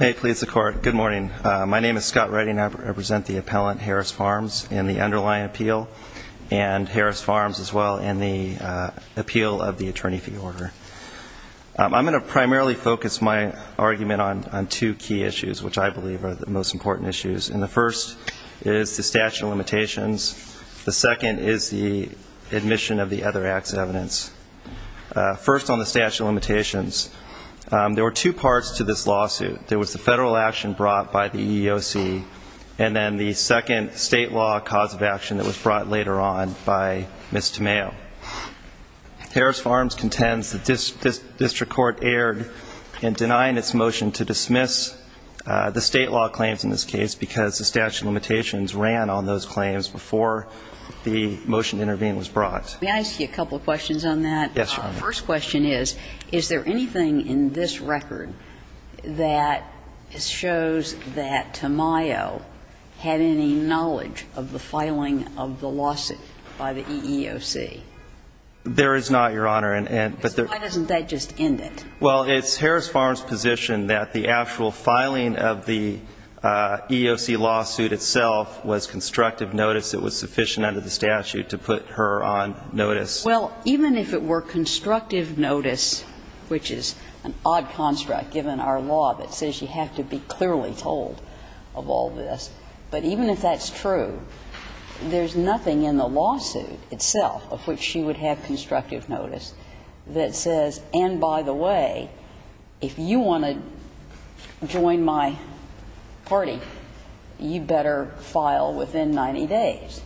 My name is Scott Redding. I represent the appellant, Harris Farms, in the underlying appeal, and Harris Farms as well in the appeal of the attorney fee order. I'm going to primarily focus my argument on two key issues, which I believe are the most important issues. And the first is the statute of limitations. The second is the admission of the other act's evidence. First, on the statute of limitations, there were two parts to this lawsuit. There was the federal action brought by the EEOC, and then the second state law cause of action that was brought later on by Ms. Tamayo. Harris Farms contends that this district court erred in denying its motion to dismiss the state law claims in this case because the statute of limitations ran on those claims before the motion to intervene was brought. May I ask you a couple of questions on that? Yes, Your Honor. The first question is, is there anything in this record that shows that Tamayo had any knowledge of the filing of the lawsuit by the EEOC? There is not, Your Honor. Why doesn't that just end it? Well, it's Harris Farms' position that the actual filing of the EEOC lawsuit itself was constructive notice. It was sufficient under the statute to put her on notice. Well, even if it were constructive notice, which is an odd construct given our law that says you have to be clearly told of all this, but even if that's true, there's nothing in the lawsuit itself of which she would have constructive notice that says, and by the way, if you want to join my party, you better file within 90 days.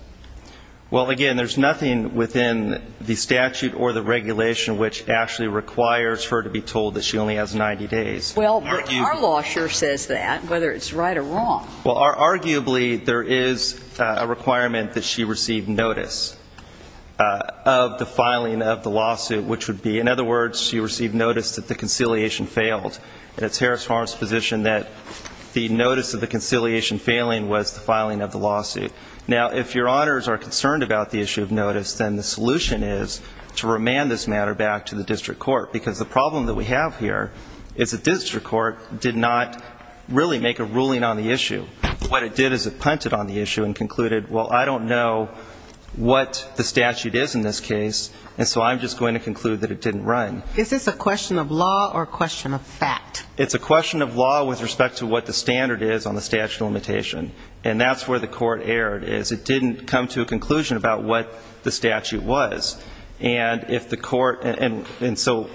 Well, again, there's nothing within the statute or the regulation which actually requires her to be told that she only has 90 days. Well, our law sure says that, whether it's right or wrong. Well, arguably, there is a requirement that she receive notice of the filing of the lawsuit, which would be, in other words, she received notice that the conciliation failed. And it's Harris Farms' position that the notice of the conciliation failing was the filing of the lawsuit. Now, if Your Honors are concerned about the issue of notice, then the solution is to remand this matter back to the district court, because the problem that we have here is the district court did not really make a ruling on the issue. What it did is it punted on the issue and concluded, well, I don't know what the statute is in this case, and so I'm just going to conclude that it didn't run. Is this a question of law or a question of fact? It's a question of law with respect to what the standard is on the statute of limitation. And that's where the court erred, is it didn't come to a conclusion about what the statute was. And if the court – and so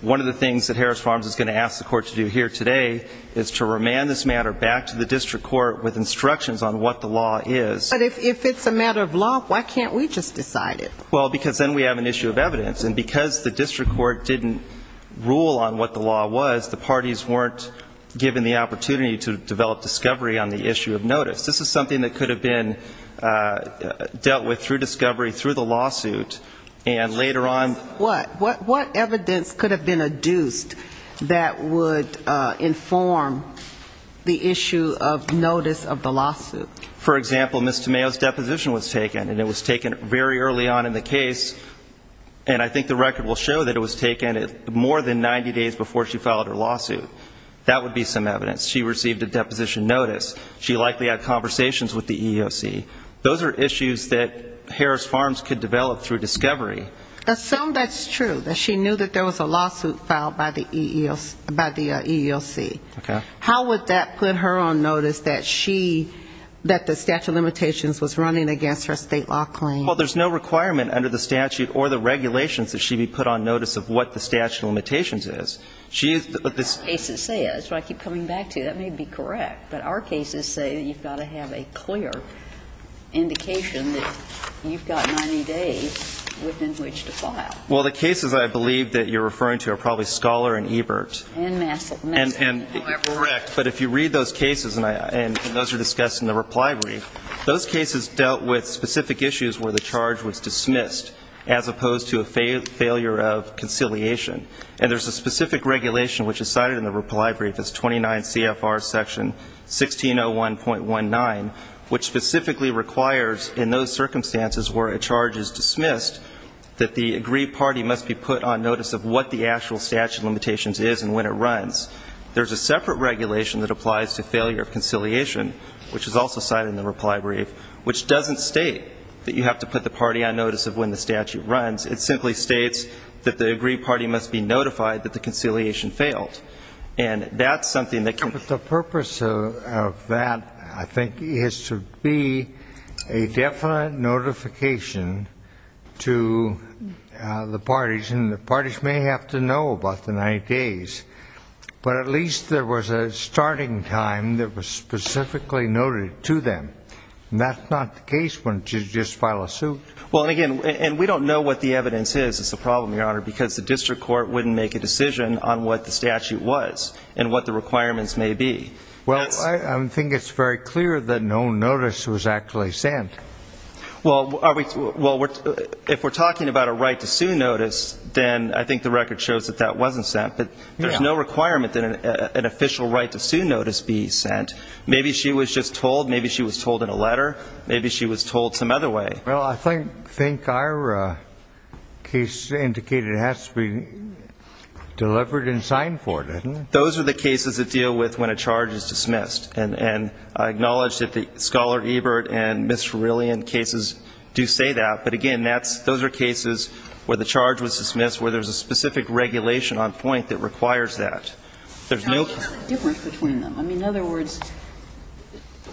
one of the things that Harris Farms is going to ask the court to do here today is to remand this matter back to the district court with instructions on what the law is. But if it's a matter of law, why can't we just decide it? Well, because then we have an issue of evidence. And because the district court didn't rule on what the law was, the parties weren't given the opportunity to develop discovery on the issue of notice. This is something that could have been dealt with through discovery, through the lawsuit, and later on – What evidence could have been adduced that would inform the issue of notice of the lawsuit? For example, Ms. Tamayo's deposition was taken, and it was taken very early on in the case. And I think the record will show that it was taken more than 90 days before she filed her lawsuit. That would be some evidence. She received a deposition notice. She likely had conversations with the EEOC. Those are issues that Harris Farms could develop through discovery. Assume that's true, that she knew that there was a lawsuit filed by the EEOC. Okay. How would that put her on notice that she – that the statute of limitations was running against her state law claim? Well, there's no requirement under the statute or the regulations that she be put on notice of what the statute of limitations is. She is – Our cases say it. That's what I keep coming back to. That may be correct. But our cases say that you've got to have a clear indication that you've got 90 days within which to file. Well, the cases I believe that you're referring to are probably Scholar and Ebert. And Massick. Correct. But if you read those cases, and those are discussed in the reply brief, those cases dealt with specific issues where the charge was dismissed as opposed to a failure of conciliation. And there's a specific regulation which is cited in the reply brief. It's 29 CFR section 1601.19, which specifically requires in those circumstances where a charge is dismissed that the agreed party must be put on notice of what the actual statute of limitations is and when it runs. There's a separate regulation that applies to failure of conciliation, which is also cited in the reply brief, which doesn't state that you have to put the party on notice of when the statute runs. It simply states that the agreed party must be notified that the conciliation failed. And that's something that can – of that, I think, is to be a definite notification to the parties. And the parties may have to know about the 90 days. But at least there was a starting time that was specifically noted to them. And that's not the case when you just file a suit. Well, and again, we don't know what the evidence is, is the problem, Your Honor, because the district court wouldn't make a decision on what the statute was and what the requirements may be. Well, I think it's very clear that no notice was actually sent. Well, if we're talking about a right-to-sue notice, then I think the record shows that that wasn't sent. But there's no requirement that an official right-to-sue notice be sent. Maybe she was just told. Maybe she was told in a letter. Maybe she was told some other way. Well, I think our case indicated it has to be delivered and signed for, doesn't it? Those are the cases that deal with when a charge is dismissed. And I acknowledge that the Scholar-Ebert and Ms. Farrellian cases do say that. But, again, those are cases where the charge was dismissed, where there's a specific regulation on point that requires that. There's no difference between them. I mean, in other words,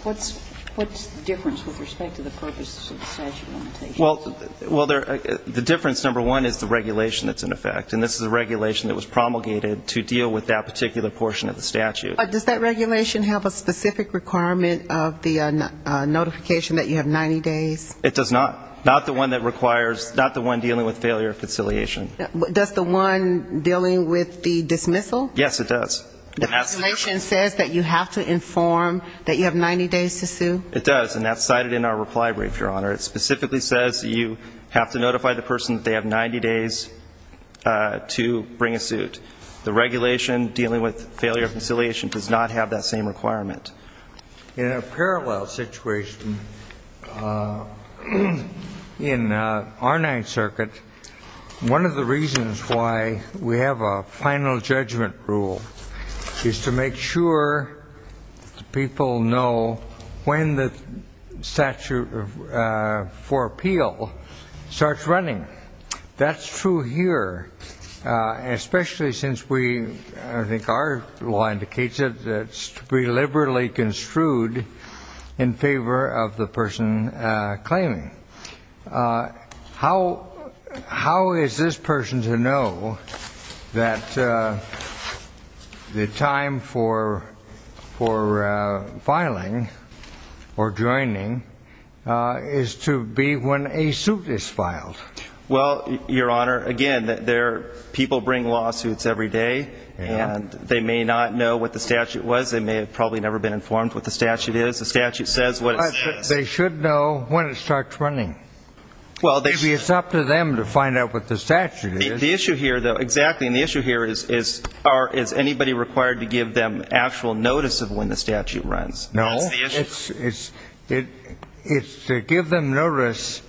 what's the difference with respect to the purpose of the statute limitation? Well, the difference, number one, is the regulation that's in effect. And this is a regulation that was promulgated to deal with that particular portion of the statute. Does that regulation have a specific requirement of the notification that you have 90 days? It does not. Not the one that requires ñ not the one dealing with failure of conciliation. Does the one dealing with the dismissal? Yes, it does. The regulation says that you have to inform that you have 90 days to sue? It does, and that's cited in our reply brief, Your Honor. It specifically says that you have to notify the person that they have 90 days to bring a suit. The regulation dealing with failure of conciliation does not have that same requirement. In a parallel situation, in our Ninth Circuit, one of the reasons why we have a final judgment rule is to make sure people know when the statute for appeal starts running. That's true here, especially since we, I think our law indicates it, that it's to be liberally construed in favor of the person claiming. How is this person to know that the time for filing or joining is to be when a suit is filed? Well, Your Honor, again, people bring lawsuits every day, and they may not know what the statute was. They may have probably never been informed what the statute is. The statute says what it says. They should know when it starts running. Maybe it's up to them to find out what the statute is. The issue here, though, exactly, and the issue here is, is anybody required to give them actual notice of when the statute runs? No. That's the issue. It's to give them notice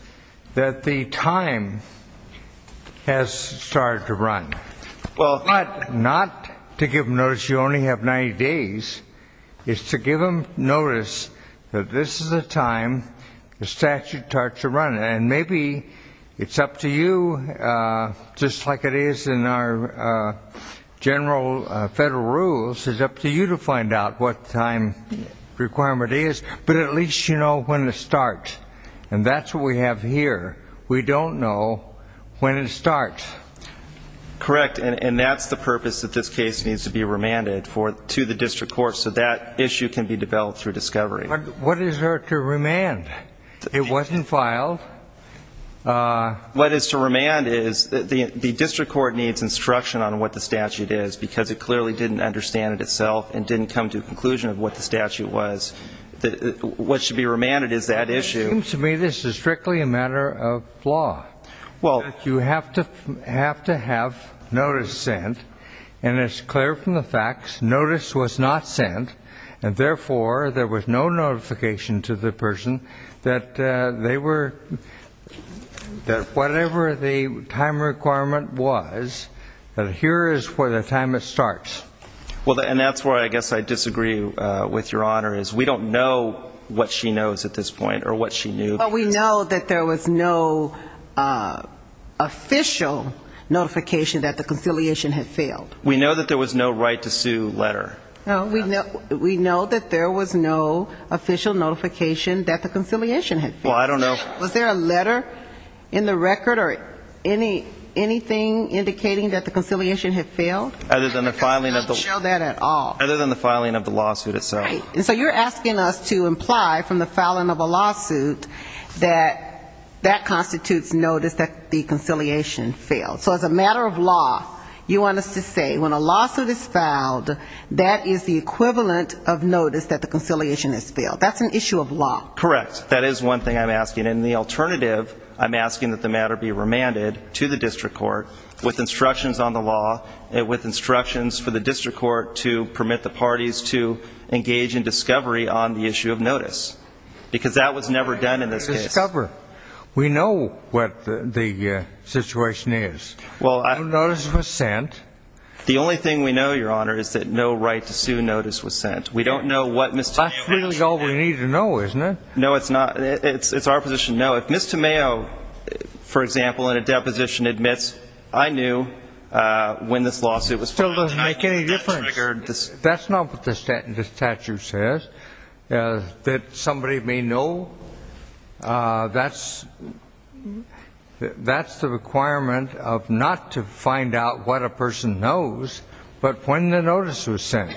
that the time has started to run. But not to give them notice you only have 90 days. It's to give them notice that this is the time the statute starts to run. And maybe it's up to you, just like it is in our general federal rules, it's up to you to find out what the time requirement is, but at least you know when it starts. And that's what we have here. We don't know when it starts. Correct, and that's the purpose that this case needs to be remanded to the district court so that issue can be developed through discovery. What is there to remand? It wasn't filed. What is to remand is the district court needs instruction on what the statute is because it clearly didn't understand it itself and didn't come to a conclusion of what the statute was. What should be remanded is that issue. It seems to me this is strictly a matter of law. You have to have notice sent, and it's clear from the facts notice was not sent, and therefore there was no notification to the person that whatever the time requirement was, that here is for the time it starts. And that's where I guess I disagree with Your Honor, is we don't know what she knows at this point or what she knew. Well, we know that there was no official notification that the conciliation had failed. We know that there was no right to sue letter. We know that there was no official notification that the conciliation had failed. Well, I don't know. Was there a letter in the record or anything indicating that the conciliation had failed? Other than the filing of the lawsuit itself. Right. And so you're asking us to imply from the filing of a lawsuit that that constitutes notice that the conciliation failed. So as a matter of law, you want us to say when a lawsuit is filed, that is the equivalent of notice that the conciliation has failed. That's an issue of law. Correct. That is one thing I'm asking. And the alternative, I'm asking that the matter be remanded to the district court with instructions on the law, with instructions for the district court to permit the parties to engage in discovery on the issue of notice. Because that was never done in this case. Discover. We know what the situation is. Notice was sent. The only thing we know, Your Honor, is that no right to sue notice was sent. We don't know what Ms. Tomeo was doing. That's really all we need to know, isn't it? No, it's not. It's our position. No, if Ms. Tomeo, for example, in a deposition admits, I knew when this lawsuit was filed. It doesn't make any difference. That's not what the statute says. That somebody may know, that's the requirement of not to find out what a person knows, but when the notice was sent.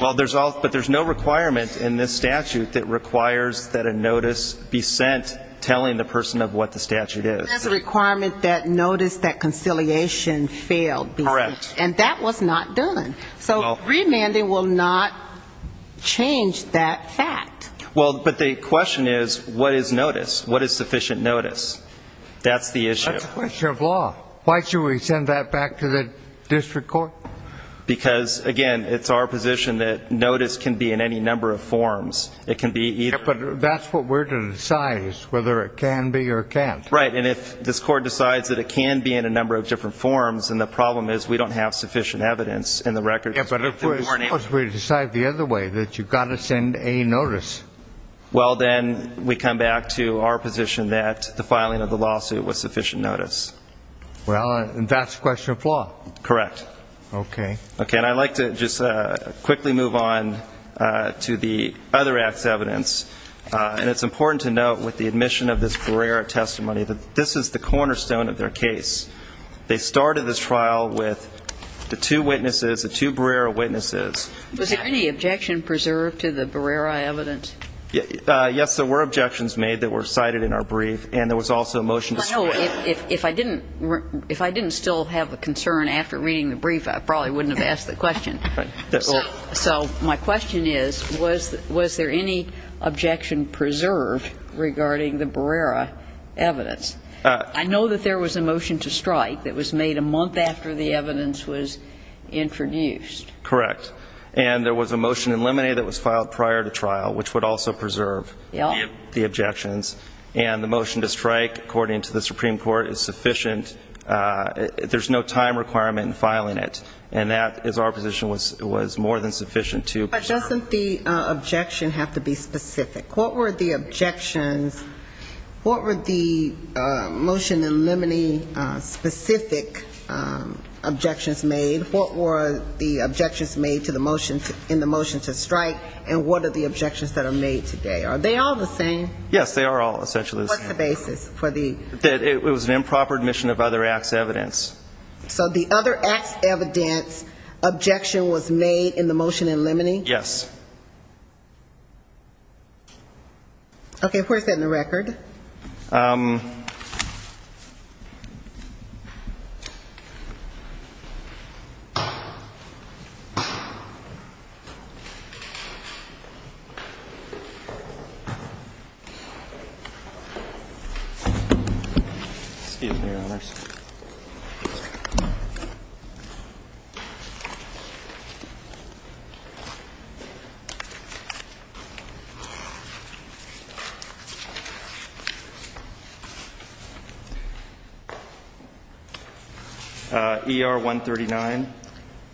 But there's no requirement in this statute that requires that a notice be sent telling the person of what the statute is. There's a requirement that notice that conciliation failed be sent. Correct. And that was not done. So remanding will not change that fact. Well, but the question is, what is notice? What is sufficient notice? That's the issue. That's a question of law. Why should we send that back to the district court? Because, again, it's our position that notice can be in any number of forms. It can be either. But that's what we're to decide is whether it can be or can't. Right. And if this court decides that it can be in a number of different forms, then the problem is we don't have sufficient evidence in the record. But suppose we decide the other way, that you've got to send a notice. Well, then we come back to our position that the filing of the lawsuit was sufficient notice. Well, that's a question of law. Correct. Okay. Okay. And I'd like to just quickly move on to the other act's evidence. And it's important to note with the admission of this Barrera testimony that this is the cornerstone of their case. They started this trial with the two witnesses, the two Barrera witnesses. Was there any objection preserved to the Barrera evidence? Yes, there were objections made that were cited in our brief, and there was also a motion to scrap it. If I didn't still have a concern after reading the brief, I probably wouldn't have asked the question. So my question is, was there any objection preserved regarding the Barrera evidence? I know that there was a motion to strike that was made a month after the evidence was introduced. Correct. And there was a motion in limine that was filed prior to trial, which would also preserve the objections. And the motion to strike, according to the Supreme Court, is sufficient. There's no time requirement in filing it. And that, as our position, was more than sufficient to preserve. But doesn't the objection have to be specific? What were the objections? What were the motion in limine specific objections made? What were the objections made in the motion to strike, and what are the objections that are made today? Are they all the same? Yes, they are all essentially the same. What's the basis for the? It was an improper admission of other acts evidence. So the other acts evidence objection was made in the motion in limine? Yes. Okay. Where's that in the record? ER 139.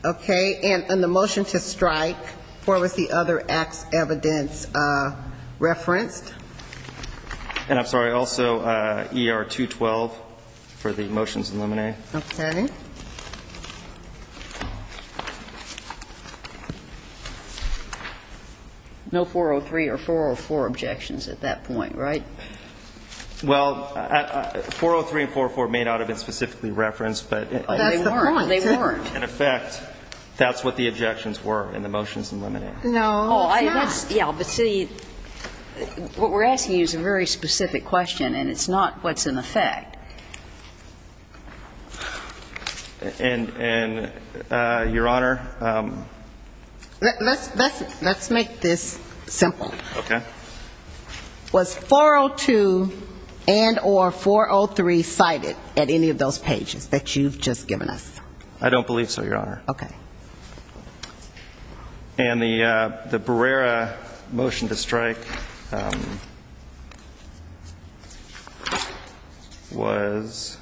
Okay. And in the motion to strike, where was the other acts evidence referenced? And I'm sorry, also ER 212 for the motions in limine. Okay. No 403 or 404 objections at that point, right? Well, 403 and 404 may not have been specifically referenced, but in effect, that's what the objections were in the motions in limine. No, it's not. Yeah, but see, what we're asking you is a very specific question, and it's not what's in effect. And, Your Honor? Let's make this simple. Okay. Was 402 and or 403 cited at any of those pages that you've just given us? I don't believe so, Your Honor. Okay. And the Barrera motion to strike was?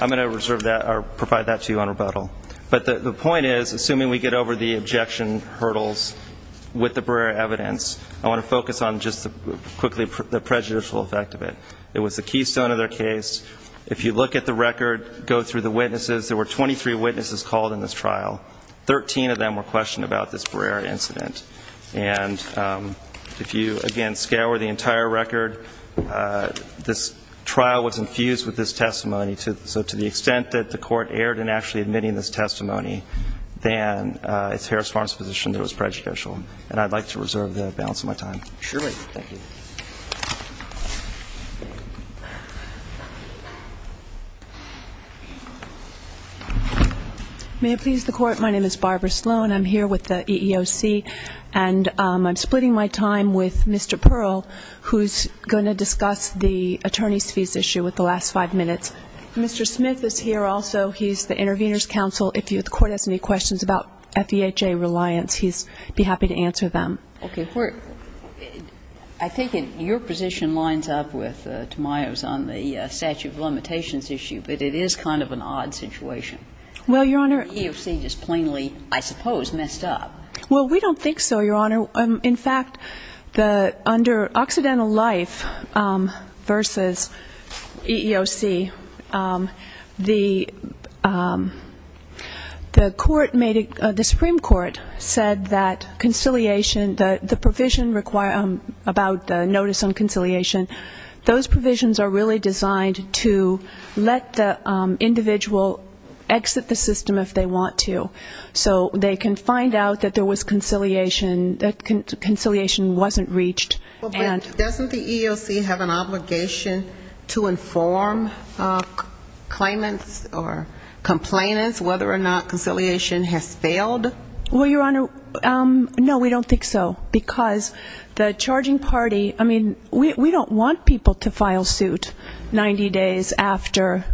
I'm going to reserve that or provide that to you on rebuttal. But the point is, assuming we get over the objection hurdles with the Barrera evidence, I want to focus on just quickly the prejudicial effect of it. It was the keystone of their case. If you look at the record, go through the witnesses, there were 23 witnesses called in this trial. Thirteen of them were questioned about this Barrera incident. And if you, again, scour the entire record, this trial was infused with this testimony. So to the extent that the court erred in actually admitting this testimony, then it's Harris Farm's position that it was prejudicial. And I'd like to reserve the balance of my time. Sure. May it please the Court, my name is Barbara Sloan. I'm here with the EEOC, and I'm splitting my time with Mr. Pearl, who's going to discuss the attorney's fees issue with the last five minutes. Mr. Smith is here also. He's the intervener's counsel. If the Court has any questions about FEHA reliance, he'd be happy to answer them. Okay. I think your position lines up with Tamayo's on the statute of limitations issue, but it is kind of an odd situation. Well, Your Honor. The EEOC just plainly, I suppose, messed up. Well, we don't think so, Your Honor. In fact, under Occidental Life versus EEOC, the Supreme Court said that conciliation, the provision about the notice on conciliation, those provisions are really designed to let the individual exit the system if they want to. So they can find out that there was conciliation, that conciliation wasn't reached. Doesn't the EEOC have an obligation to inform claimants or complainants whether or not conciliation has failed? Well, Your Honor, no, we don't think so. Because the charging party, I mean, we don't want people to file suit 90 days after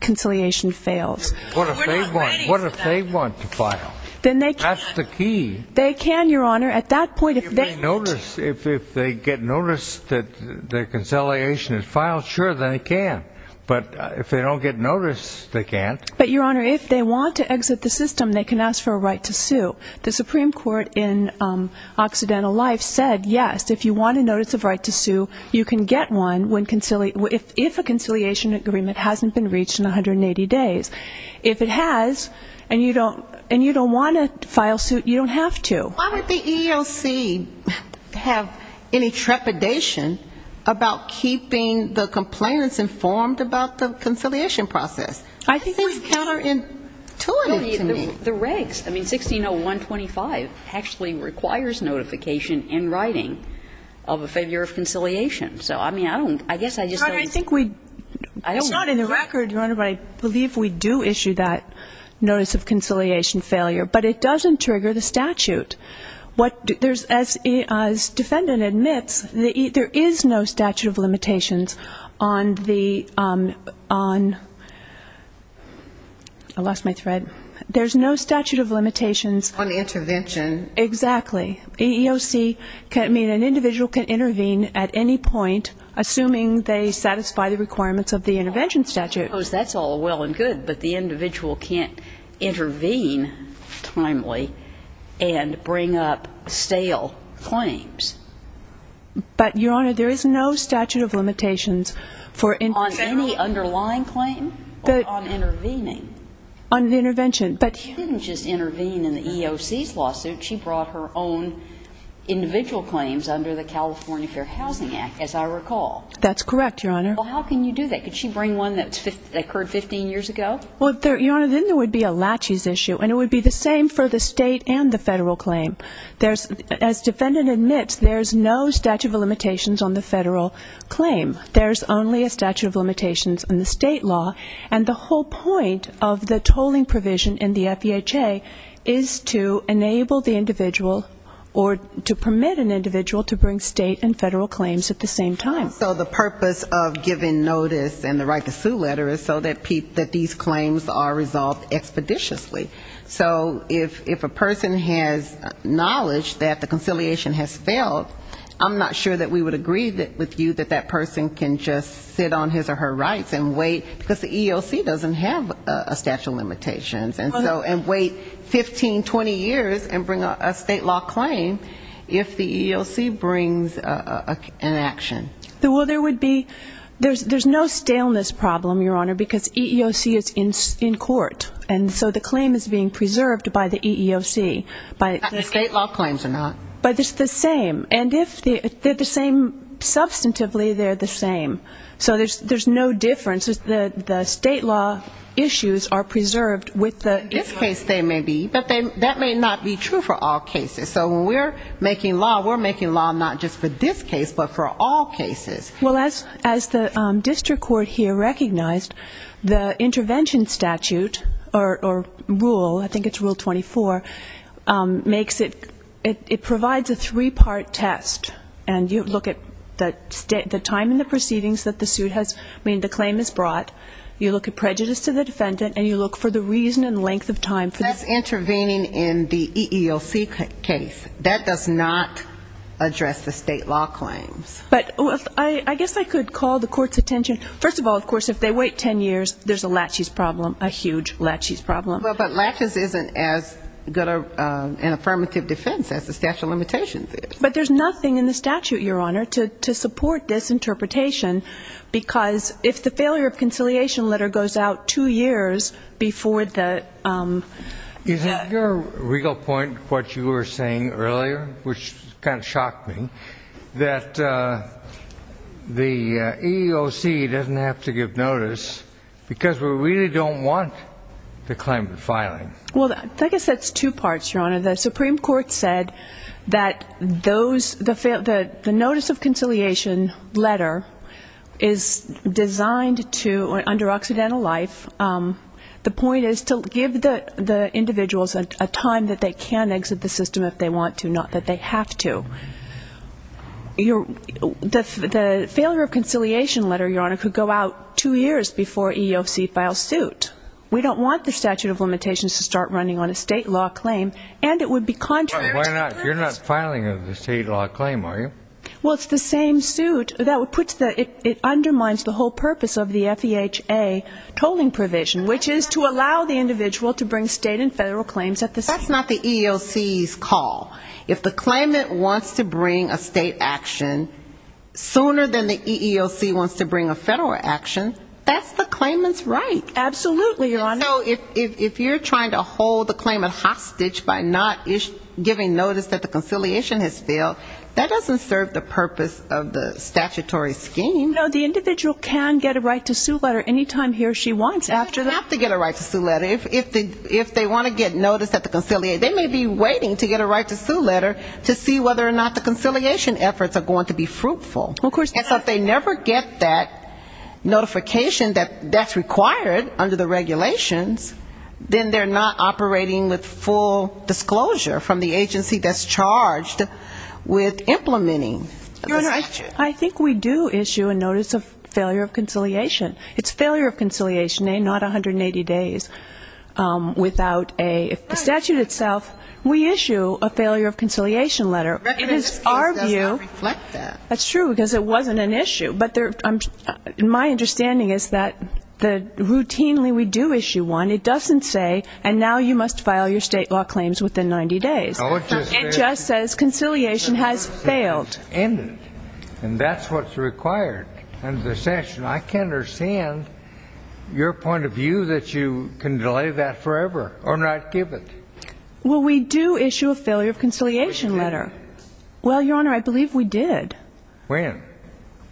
conciliation fails. We're not ready for that. What if they want to file? That's the key. They can, Your Honor. At that point, if they need to. If they get notice that their conciliation is filed, sure, then they can. But if they don't get notice, they can't. But, Your Honor, if they want to exit the system, they can ask for a right to sue. The Supreme Court in Occidental Life said, yes, if you want a notice of right to sue, you can get one if a conciliation agreement hasn't been reached in 180 days. If it has and you don't want to file suit, you don't have to. Why would the EEOC have any trepidation about keeping the complainants informed about the conciliation process? I think it's counterintuitive to me. The regs, I mean, 160125 actually requires notification in writing of a failure of conciliation. So, I mean, I don't, I guess I just don't. Your Honor, I think we, it's not in the record, Your Honor, but I believe we do issue that notice of conciliation failure, but it doesn't trigger the statute. What, there's, as defendant admits, there is no statute of limitations on the, on, I lost my thread. There's no statute of limitations. On intervention. Exactly. EEOC can, I mean, an individual can intervene at any point, assuming they satisfy the requirements of the intervention statute. Of course, that's all well and good, but the individual can't intervene timely and bring up stale claims. But, Your Honor, there is no statute of limitations for intervention. On any underlying claim? On intervening. On intervention, but. She didn't just intervene in the EEOC's lawsuit. She brought her own individual claims under the California Fair Housing Act, as I recall. That's correct, Your Honor. Well, how can you do that? Could she bring one that occurred 15 years ago? Well, Your Honor, then there would be a laches issue, and it would be the same for the state and the federal claim. There's, as defendant admits, there's no statute of limitations on the federal claim. There's only a statute of limitations on the state law. And the whole point of the tolling provision in the FEHA is to enable the individual or to permit an individual to bring state and federal claims at the same time. So the purpose of giving notice and the right to sue letter is so that these claims are resolved expeditiously. So if a person has knowledge that the conciliation has failed, I'm not sure that we would agree with you that that person can just sit on his or her rights and wait, because the EEOC doesn't have a statute of limitations, and wait 15, 20 years and bring a state law claim if the EEOC brings an action. Well, there would be no staleness problem, Your Honor, because EEOC is in court. And so the claim is being preserved by the EEOC. State law claims are not. But it's the same. And if they're the same substantively, they're the same. So there's no difference. The state law issues are preserved with the EEOC. In this case they may be, but that may not be true for all cases. So when we're making law, we're making law not just for this case, but for all cases. Well, as the district court here recognized, the intervention statute or rule, I think it's rule 24, makes it, it provides a three-part test. And you look at the time in the proceedings that the suit has, I mean, the claim is brought. You look at prejudice to the defendant, and you look for the reason and length of time. That's intervening in the EEOC case. That does not address the state law claims. But I guess I could call the court's attention, first of all, of course, if they wait 10 years, there's a laches problem, a huge laches problem. Well, but laches isn't as good an affirmative defense as the statute of limitations is. But there's nothing in the statute, Your Honor, to support this interpretation, because if the failure of conciliation letter goes out two years before the ‑‑ Is that your real point, what you were saying earlier, which kind of shocked me, that the EEOC doesn't have to give notice because we really don't want the claimant filing. Well, I guess that's two parts, Your Honor. The Supreme Court said that those, the notice of conciliation letter is designed to, under Occidental Life, the point is to give the individuals a time that they can exit the system if they want to, not that they have to. The failure of conciliation letter, Your Honor, could go out two years before EEOC files suit. We don't want the statute of limitations to start running on a state law claim, and it would be contrary to the ‑‑ Why not? You're not filing a state law claim, are you? Well, it's the same suit. It undermines the whole purpose of the FEHA tolling provision, which is to allow the individual to bring state and federal claims at the same time. That's not the EEOC's call. If the claimant wants to bring a state action sooner than the EEOC wants to bring a federal action, that's the claimant's right. Absolutely, Your Honor. So if you're trying to hold the claimant hostage by not giving notice that the conciliation has failed, that doesn't serve the purpose of the statutory scheme. No, the individual can get a right to sue letter any time he or she wants after that. They don't have to get a right to sue letter. If they want to get notice that the conciliation ‑‑ they may be waiting to get a right to sue letter to see whether or not the conciliation efforts are going to be fruitful. And so if they never get that notification that that's required under the regulations, then they're not operating with full disclosure from the agency that's charged with implementing the statute. Your Honor, I think we do issue a notice of failure of conciliation. It's failure of conciliation, not 180 days. Without a ‑‑ the statute itself, we issue a failure of conciliation letter. It is our view. That does not reflect that. That's true, because it wasn't an issue. But my understanding is that routinely we do issue one. It doesn't say, and now you must file your state law claims within 90 days. It just says conciliation has failed. And that's what's required. I can't understand your point of view that you can delay that forever or not give it. Well, we do issue a failure of conciliation letter. Well, Your Honor, I believe we did. When?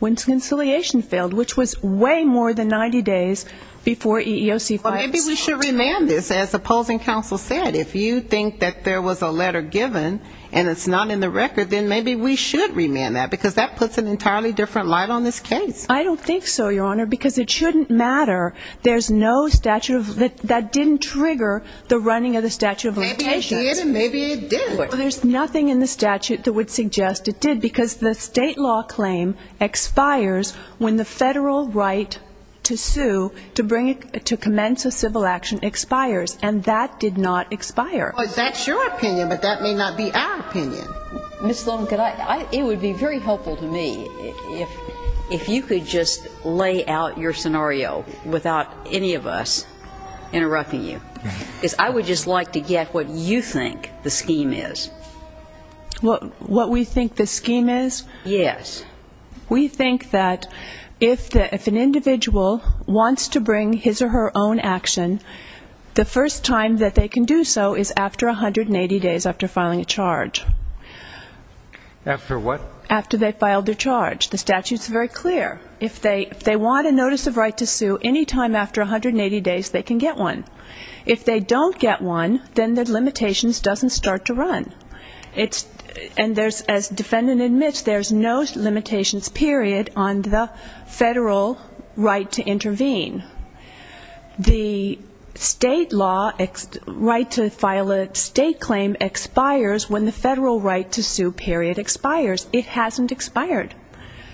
When conciliation failed, which was way more than 90 days before EEOC filed it. Well, maybe we should remand this. As opposing counsel said, if you think that there was a letter given and it's not in the record, then maybe we should remand that, because that puts an entirely different light on this case. I don't think so, Your Honor, because it shouldn't matter. There's no statute of ‑‑ that didn't trigger the running of the statute of limitations. Maybe it did and maybe it didn't. There's nothing in the statute that would suggest it did, because the state law claim expires when the federal right to sue to bring it to commence a civil action expires. And that did not expire. Well, that's your opinion, but that may not be our opinion. Ms. Sloan, it would be very helpful to me if you could just lay out your scenario without any of us interrupting you. Because I would just like to get what you think the scheme is. What we think the scheme is? Yes. We think that if an individual wants to bring his or her own action, the first time that they can do so is after 180 days after filing a charge. After what? After they filed their charge. The statute's very clear. If they want a notice of right to sue, any time after 180 days they can get one. If they don't get one, then the limitations doesn't start to run. And as the defendant admits, there's no limitations, period, on the federal right to intervene. The state law, right to file a state claim, expires when the federal right to sue period expires. It hasn't expired.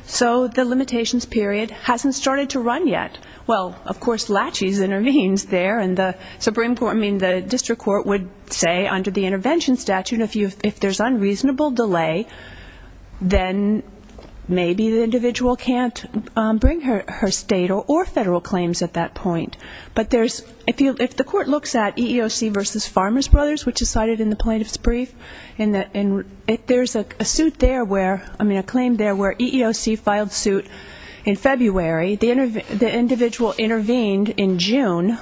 So the limitations period hasn't started to run yet. Well, of course, Latches intervenes there, and the district court would say under the intervention statute, if there's unreasonable delay, then maybe the individual can't bring her state or federal claims at that point. But if the court looks at EEOC v. Farmers Brothers, which is cited in the plaintiff's brief, there's a claim there where EEOC filed suit in February. The individual intervened in June,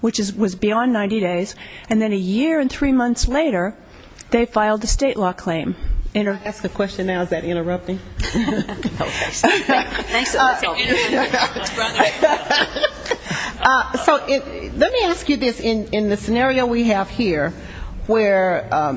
which was beyond 90 days. And then a year and three months later, they filed a state law claim. Can I ask a question now? Is that interrupting? So let me ask you this. In the scenario we have here, where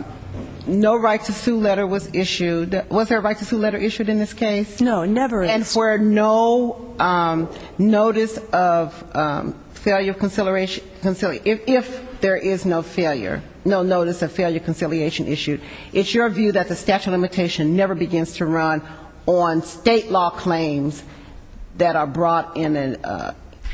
no right to sue letter was issued, was there a right to sue letter issued in this case? No, never issued. And for no notice of failure of conciliation, if there is no failure, no notice of failure of conciliation issued, it's your view that the statute of limitation never begins to run on state law claims that are brought in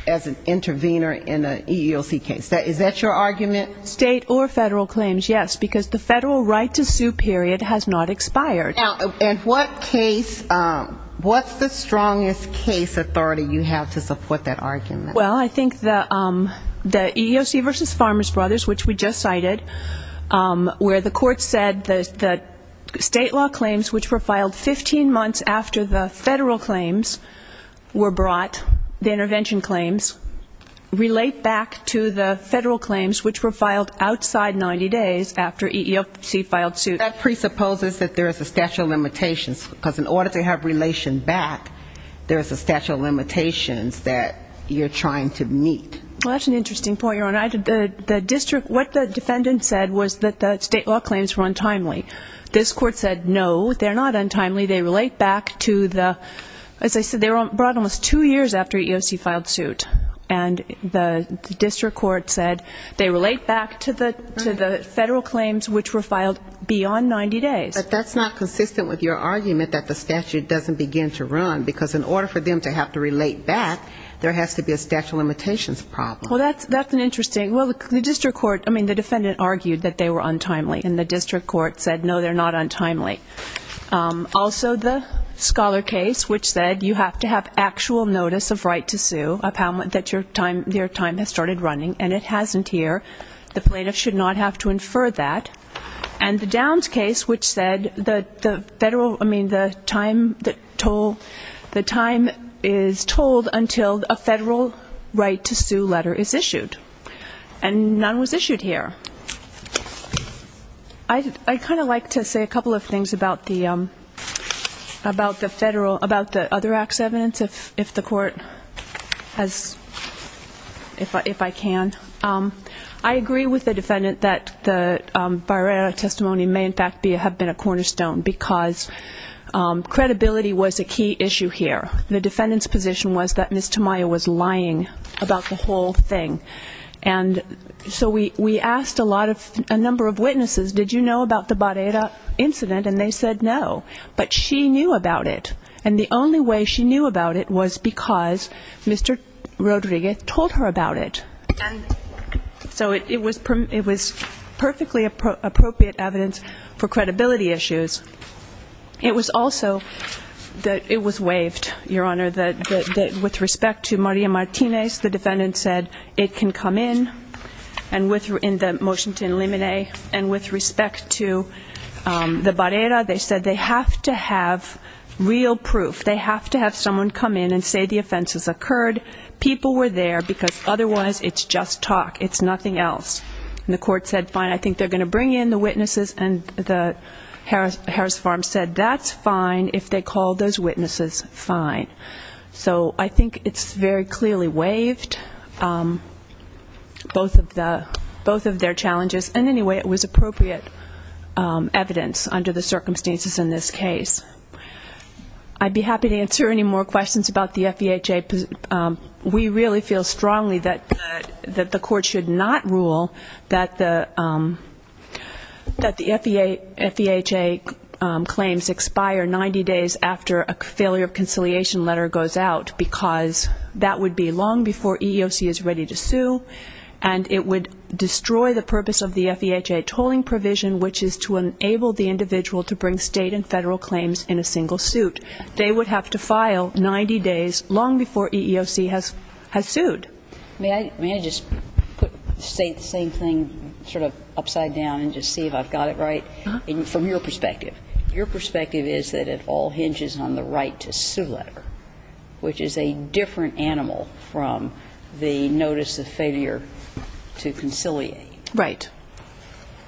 as an intervener in an EEOC case. Is that your argument? State or federal claims, yes, because the federal right to sue period has not expired. Now, in what case, what's the strongest case authority you have to support that argument? Well, I think the EEOC v. Farmers Brothers, which we just cited, where the court said the state law claims, which were filed 15 months after the federal claims were brought, the intervention claims, relate back to the federal claims, which were filed outside 90 days after EEOC filed suit. I think that presupposes that there is a statute of limitations, because in order to have relation back, there is a statute of limitations that you're trying to meet. Well, that's an interesting point, Your Honor. The district, what the defendant said was that the state law claims were untimely. This court said, no, they're not untimely. They relate back to the, as I said, they were brought in almost two years after EEOC filed suit. And the district court said they relate back to the federal claims, which were filed beyond 90 days. But that's not consistent with your argument that the statute doesn't begin to run, because in order for them to have to relate back, there has to be a statute of limitations problem. Well, that's an interesting, well, the district court, I mean, the defendant argued that they were untimely, and the district court said, no, they're not untimely. Also, the Scholar case, which said you have to have actual notice of right to sue, that your time has started running, and it hasn't here. The plaintiff should not have to infer that. And the Downs case, which said the federal, I mean, the time that toll, the time is tolled until a federal right to sue letter is issued. And none was issued here. I'd kind of like to say a couple of things about the federal, about the other act's evidence, if the court has, if I can. I agree with the defendant that the Barrera testimony may in fact have been a cornerstone, because credibility was a key issue here. The defendant's position was that Ms. Tamayo was lying about the whole thing. And so we asked a lot of, a number of witnesses, did you know about the Barrera incident, and they said no. But she knew about it. And the only way she knew about it was because Mr. Rodriguez told her about it. And so it was perfectly appropriate evidence for credibility issues. It was also that it was waived, Your Honor, that with respect to Maria Martinez, the defendant said it can come in, in the motion to eliminate. And with respect to the Barrera, they said they have to have real proof. They have to have someone come in and say the offenses occurred. People were there, because otherwise it's just talk. It's nothing else. And the court said fine, I think they're going to bring in the witnesses. And the Harris Farm said that's fine if they call those witnesses fine. So I think it's very clearly waived, both of their challenges. And anyway, it was appropriate evidence under the circumstances in this case. I'd be happy to answer any more questions about the FEHA. We really feel strongly that the court should not rule that the FEHA claims expire 90 days after a failure of conciliation letter goes out, because that would be long before EEOC is ready to sue, and it would destroy the purpose of the FEHA tolling provision, which is to enable the individual to bring state and federal claims in a single suit. They would have to file 90 days long before EEOC has sued. May I just put the same thing sort of upside down and just see if I've got it right? From your perspective. Your perspective is that it all hinges on the right to sue letter, which is a different animal from the notice of failure to conciliate. Right.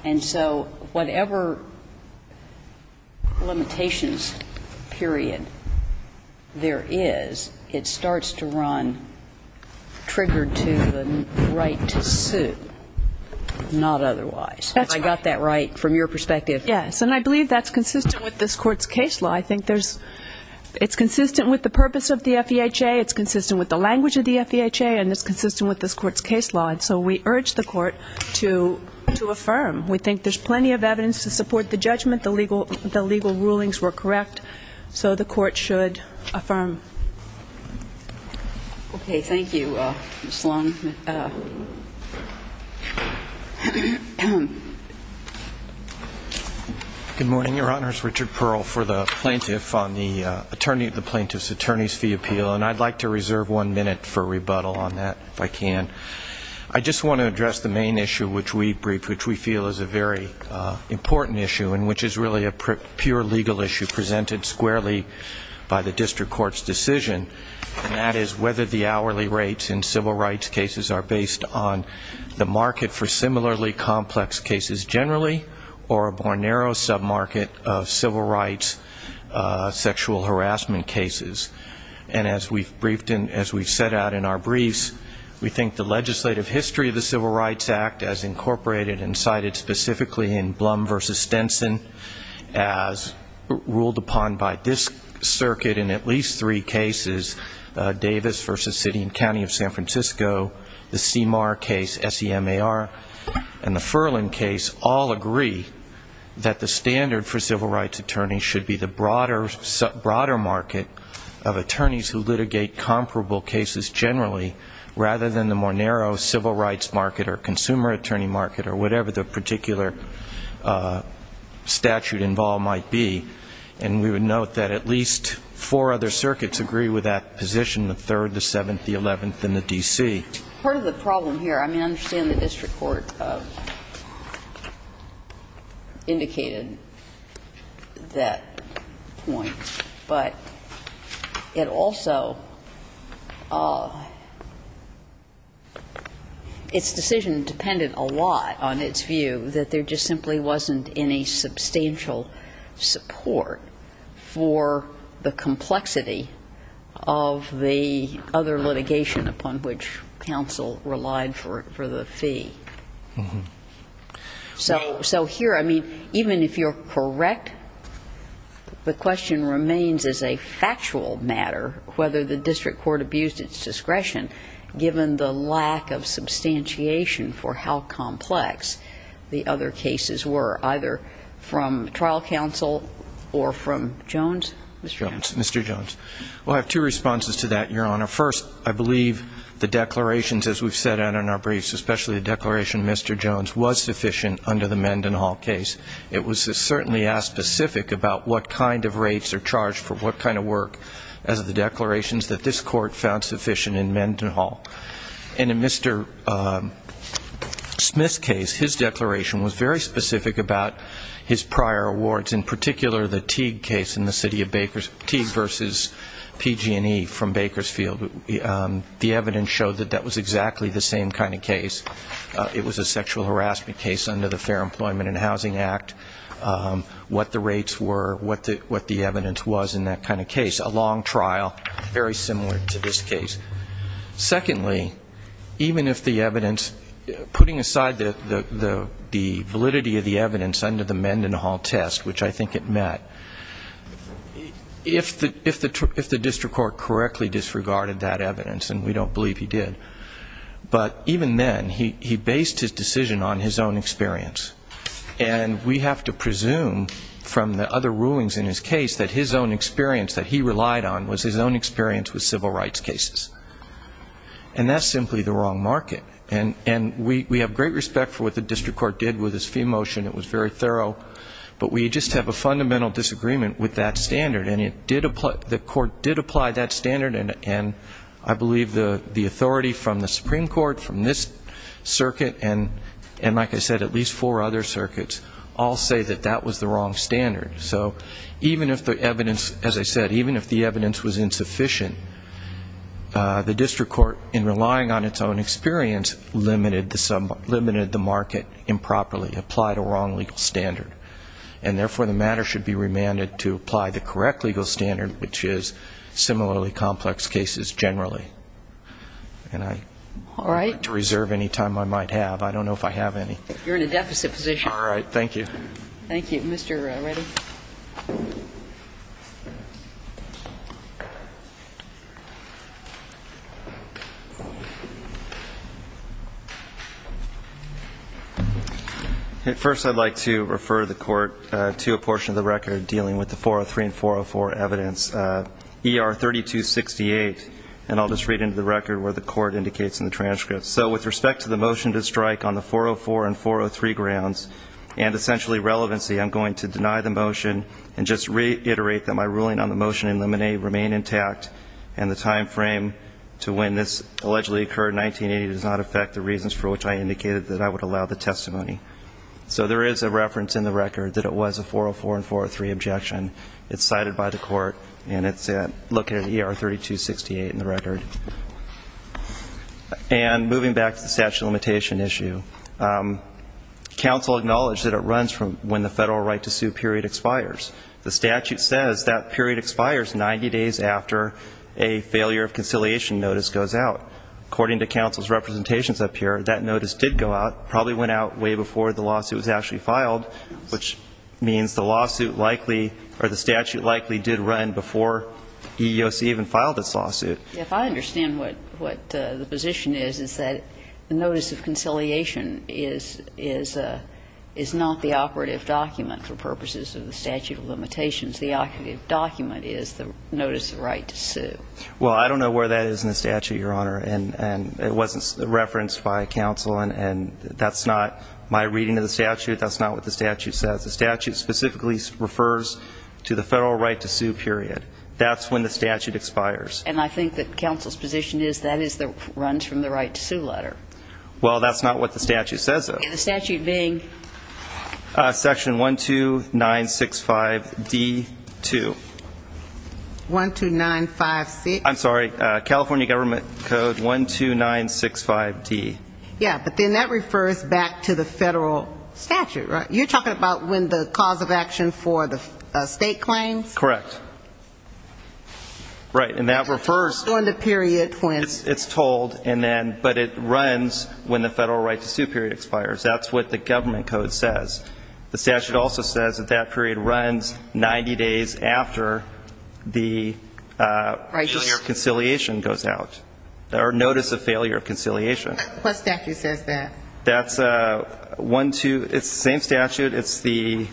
And so whatever limitations period there is, it starts to run triggered to the right to sue, not otherwise. That's right. Have I got that right from your perspective? Yes, and I believe that's consistent with this court's case law. I think it's consistent with the purpose of the FEHA, it's consistent with the language of the FEHA, and it's consistent with this court's case law, and so we urge the court to affirm. We think there's plenty of evidence to support the judgment, the legal rulings were correct, so the court should affirm. Okay. Thank you, Ms. Long. Good morning, Your Honors. Richard Pearl for the plaintiff on the attorney of the plaintiff's attorney's fee appeal, and I'd like to reserve one minute for rebuttal on that if I can. I just want to address the main issue which we feel is a very important issue and which is really a pure legal issue presented squarely by the district courts today. And that is whether the hourly rates in civil rights cases are based on the market for similarly complex cases generally or a more narrow sub-market of civil rights sexual harassment cases. And as we've set out in our briefs, we think the legislative history of the Civil Rights Act as incorporated and cited specifically in Blum v. Stenson as ruled upon by this circuit in at least three cases, Davis v. City and County of San Francisco, the CMAR case, S-E-M-A-R, and the Furlan case all agree that the standard for civil rights attorneys should be the broader market of attorneys who litigate comparable cases generally rather than the more narrow civil rights market or consumer attorney market or whatever the particular statute involved might be. And we would note that at least four other circuits agree with that position, the 3rd, the 7th, the 11th, and the D.C. Part of the problem here, I mean, I understand the district court indicated that point, but it also, its decision depended a lot on its view that there just simply wasn't any substantial support for the complexity of the other litigation upon which counsel relied for the fee. So here, I mean, even if you're correct, the question remains as a factual matter whether the district court abused its from trial counsel or from Jones? Mr. Jones. Mr. Jones. Well, I have two responses to that, Your Honor. First, I believe the declarations as we've set out in our briefs, especially the declaration of Mr. Jones, was sufficient under the Mendenhall case. It was certainly as specific about what kind of rates are charged for what kind of work as the declarations that this court found sufficient in Mendenhall. And in Mr. Smith's case, his declaration was very specific about his prior awards, in particular the Teague case in the City of Bakersfield, Teague v. PG&E from Bakersfield. The evidence showed that that was exactly the same kind of case. It was a sexual harassment case under the Fair Employment and Housing Act, what the rates were, what the evidence was in that kind of case. Secondly, even if the evidence, putting aside the validity of the evidence under the Mendenhall test, which I think it met, if the district court correctly disregarded that evidence, and we don't believe he did, but even then, he based his decision on his own experience. And we have to presume from the other rulings in his case that his own experience that he relied on was his own experience with Mendenhall, and that's simply the wrong market. And we have great respect for what the district court did with his fee motion. It was very thorough, but we just have a fundamental disagreement with that standard. And it did apply, the court did apply that standard, and I believe the authority from the Supreme Court, from this circuit, and like I said, at least four other circuits, all say that that was the wrong standard. So even if the evidence, as I said, even if the evidence was insufficient, the district court, the Supreme Court, the district court, in relying on its own experience, limited the market improperly, applied a wrong legal standard. And therefore, the matter should be remanded to apply the correct legal standard, which is similarly complex cases generally. And I don't like to reserve any time I might have. I don't know if I have any. You're in a deficit position. First, I'd like to refer the court to a portion of the record dealing with the 403 and 404 evidence. ER 3268, and I'll just read into the record where the court indicates in the transcript. So with respect to the motion to strike on the 404 and 403 grounds, and essentially relevancy, I'm going to deny the motion and just reiterate that my ruling on the motion in limine remain intact and the time frame to when this allegedly occurred in 1980 does not affect the reasons for which I indicated that I would allow the testimony. So there is a reference in the record that it was a 404 and 403 objection. It's cited by the court, and it's located at ER 3268 in the record. And moving back to the statute of limitation issue, counsel acknowledged that it runs from when the federal right to sue period expires. The statute says that period expires 90 days after a failure of conciliation notice goes to court. And the statute says that it runs from 90 days after a failure of conciliation notice goes out. According to counsel's representations up here, that notice did go out, probably went out way before the lawsuit was actually filed, which means the lawsuit likely, or the statute likely, did run before EEOC even filed its lawsuit. If I understand what the position is, it's that the notice of conciliation is not the operative document for purposes of the statute of limitations. The operative document is the notice of right to sue. Well, I don't know where that is in the statute, Your Honor, and it wasn't referenced by counsel, and that's not my reading of the statute. That's not what the statute says. The statute specifically refers to the federal right to sue period. That's when the statute expires. And I think that counsel's position is that it runs from the right to sue letter. Well, that's not what the statute says, though. And the statute being? Section 12965D2. 12956? I'm sorry, California Government Code 12965D. Yeah, but then that refers back to the federal statute, right? You're talking about when the cause of action for the state claims? Correct. Right, and that refers... That's what the statute says. The statute also says that that period runs 90 days after the failure of conciliation goes out, or notice of failure of conciliation. What statute says that? That's 12... It's the same statute. It's the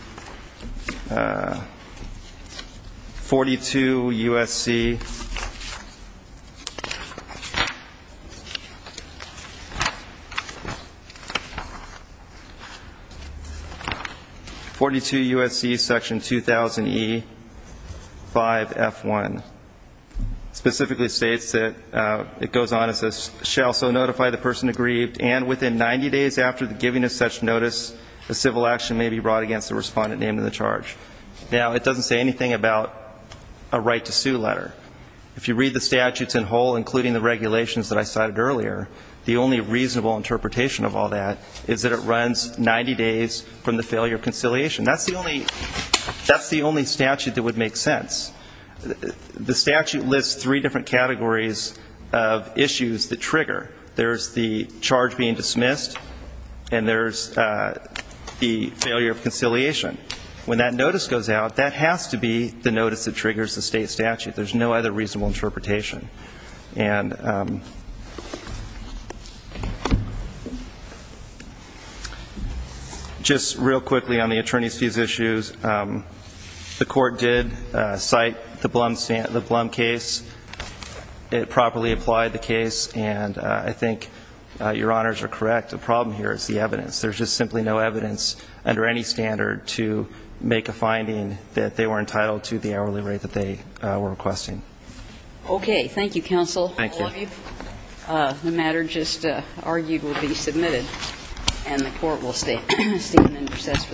42 U.S.C. 42 U.S.C. Section 2000E5F1. Specifically states that it goes on as this, shall so notify the person aggrieved, and within 90 days after the giving of such notice, a civil action may be brought against the respondent named in the charge. Now, it doesn't say anything about a right to sue letter. If you read the statutes in whole, including the regulations that I cited earlier, the only reasonable interpretation of all that is that it runs 90 days after the failure of conciliation goes out. That's the only statute that would make sense. The statute lists three different categories of issues that trigger. There's the charge being dismissed, and there's the failure of conciliation. When that notice goes out, that has to be the notice that triggers the state statute. There's no other reasonable interpretation. And just real quickly on the attorney's fees issues, the court did cite the Blum case. It properly applied the case, and I think Your Honors are correct. The problem here is the evidence. There's just simply no evidence under any standard to make a finding that they were entitled to the hourly rate that they were requesting. Thank you, counsel. Thank you. The matter just argued will be submitted, and the court will stand in recess for the day.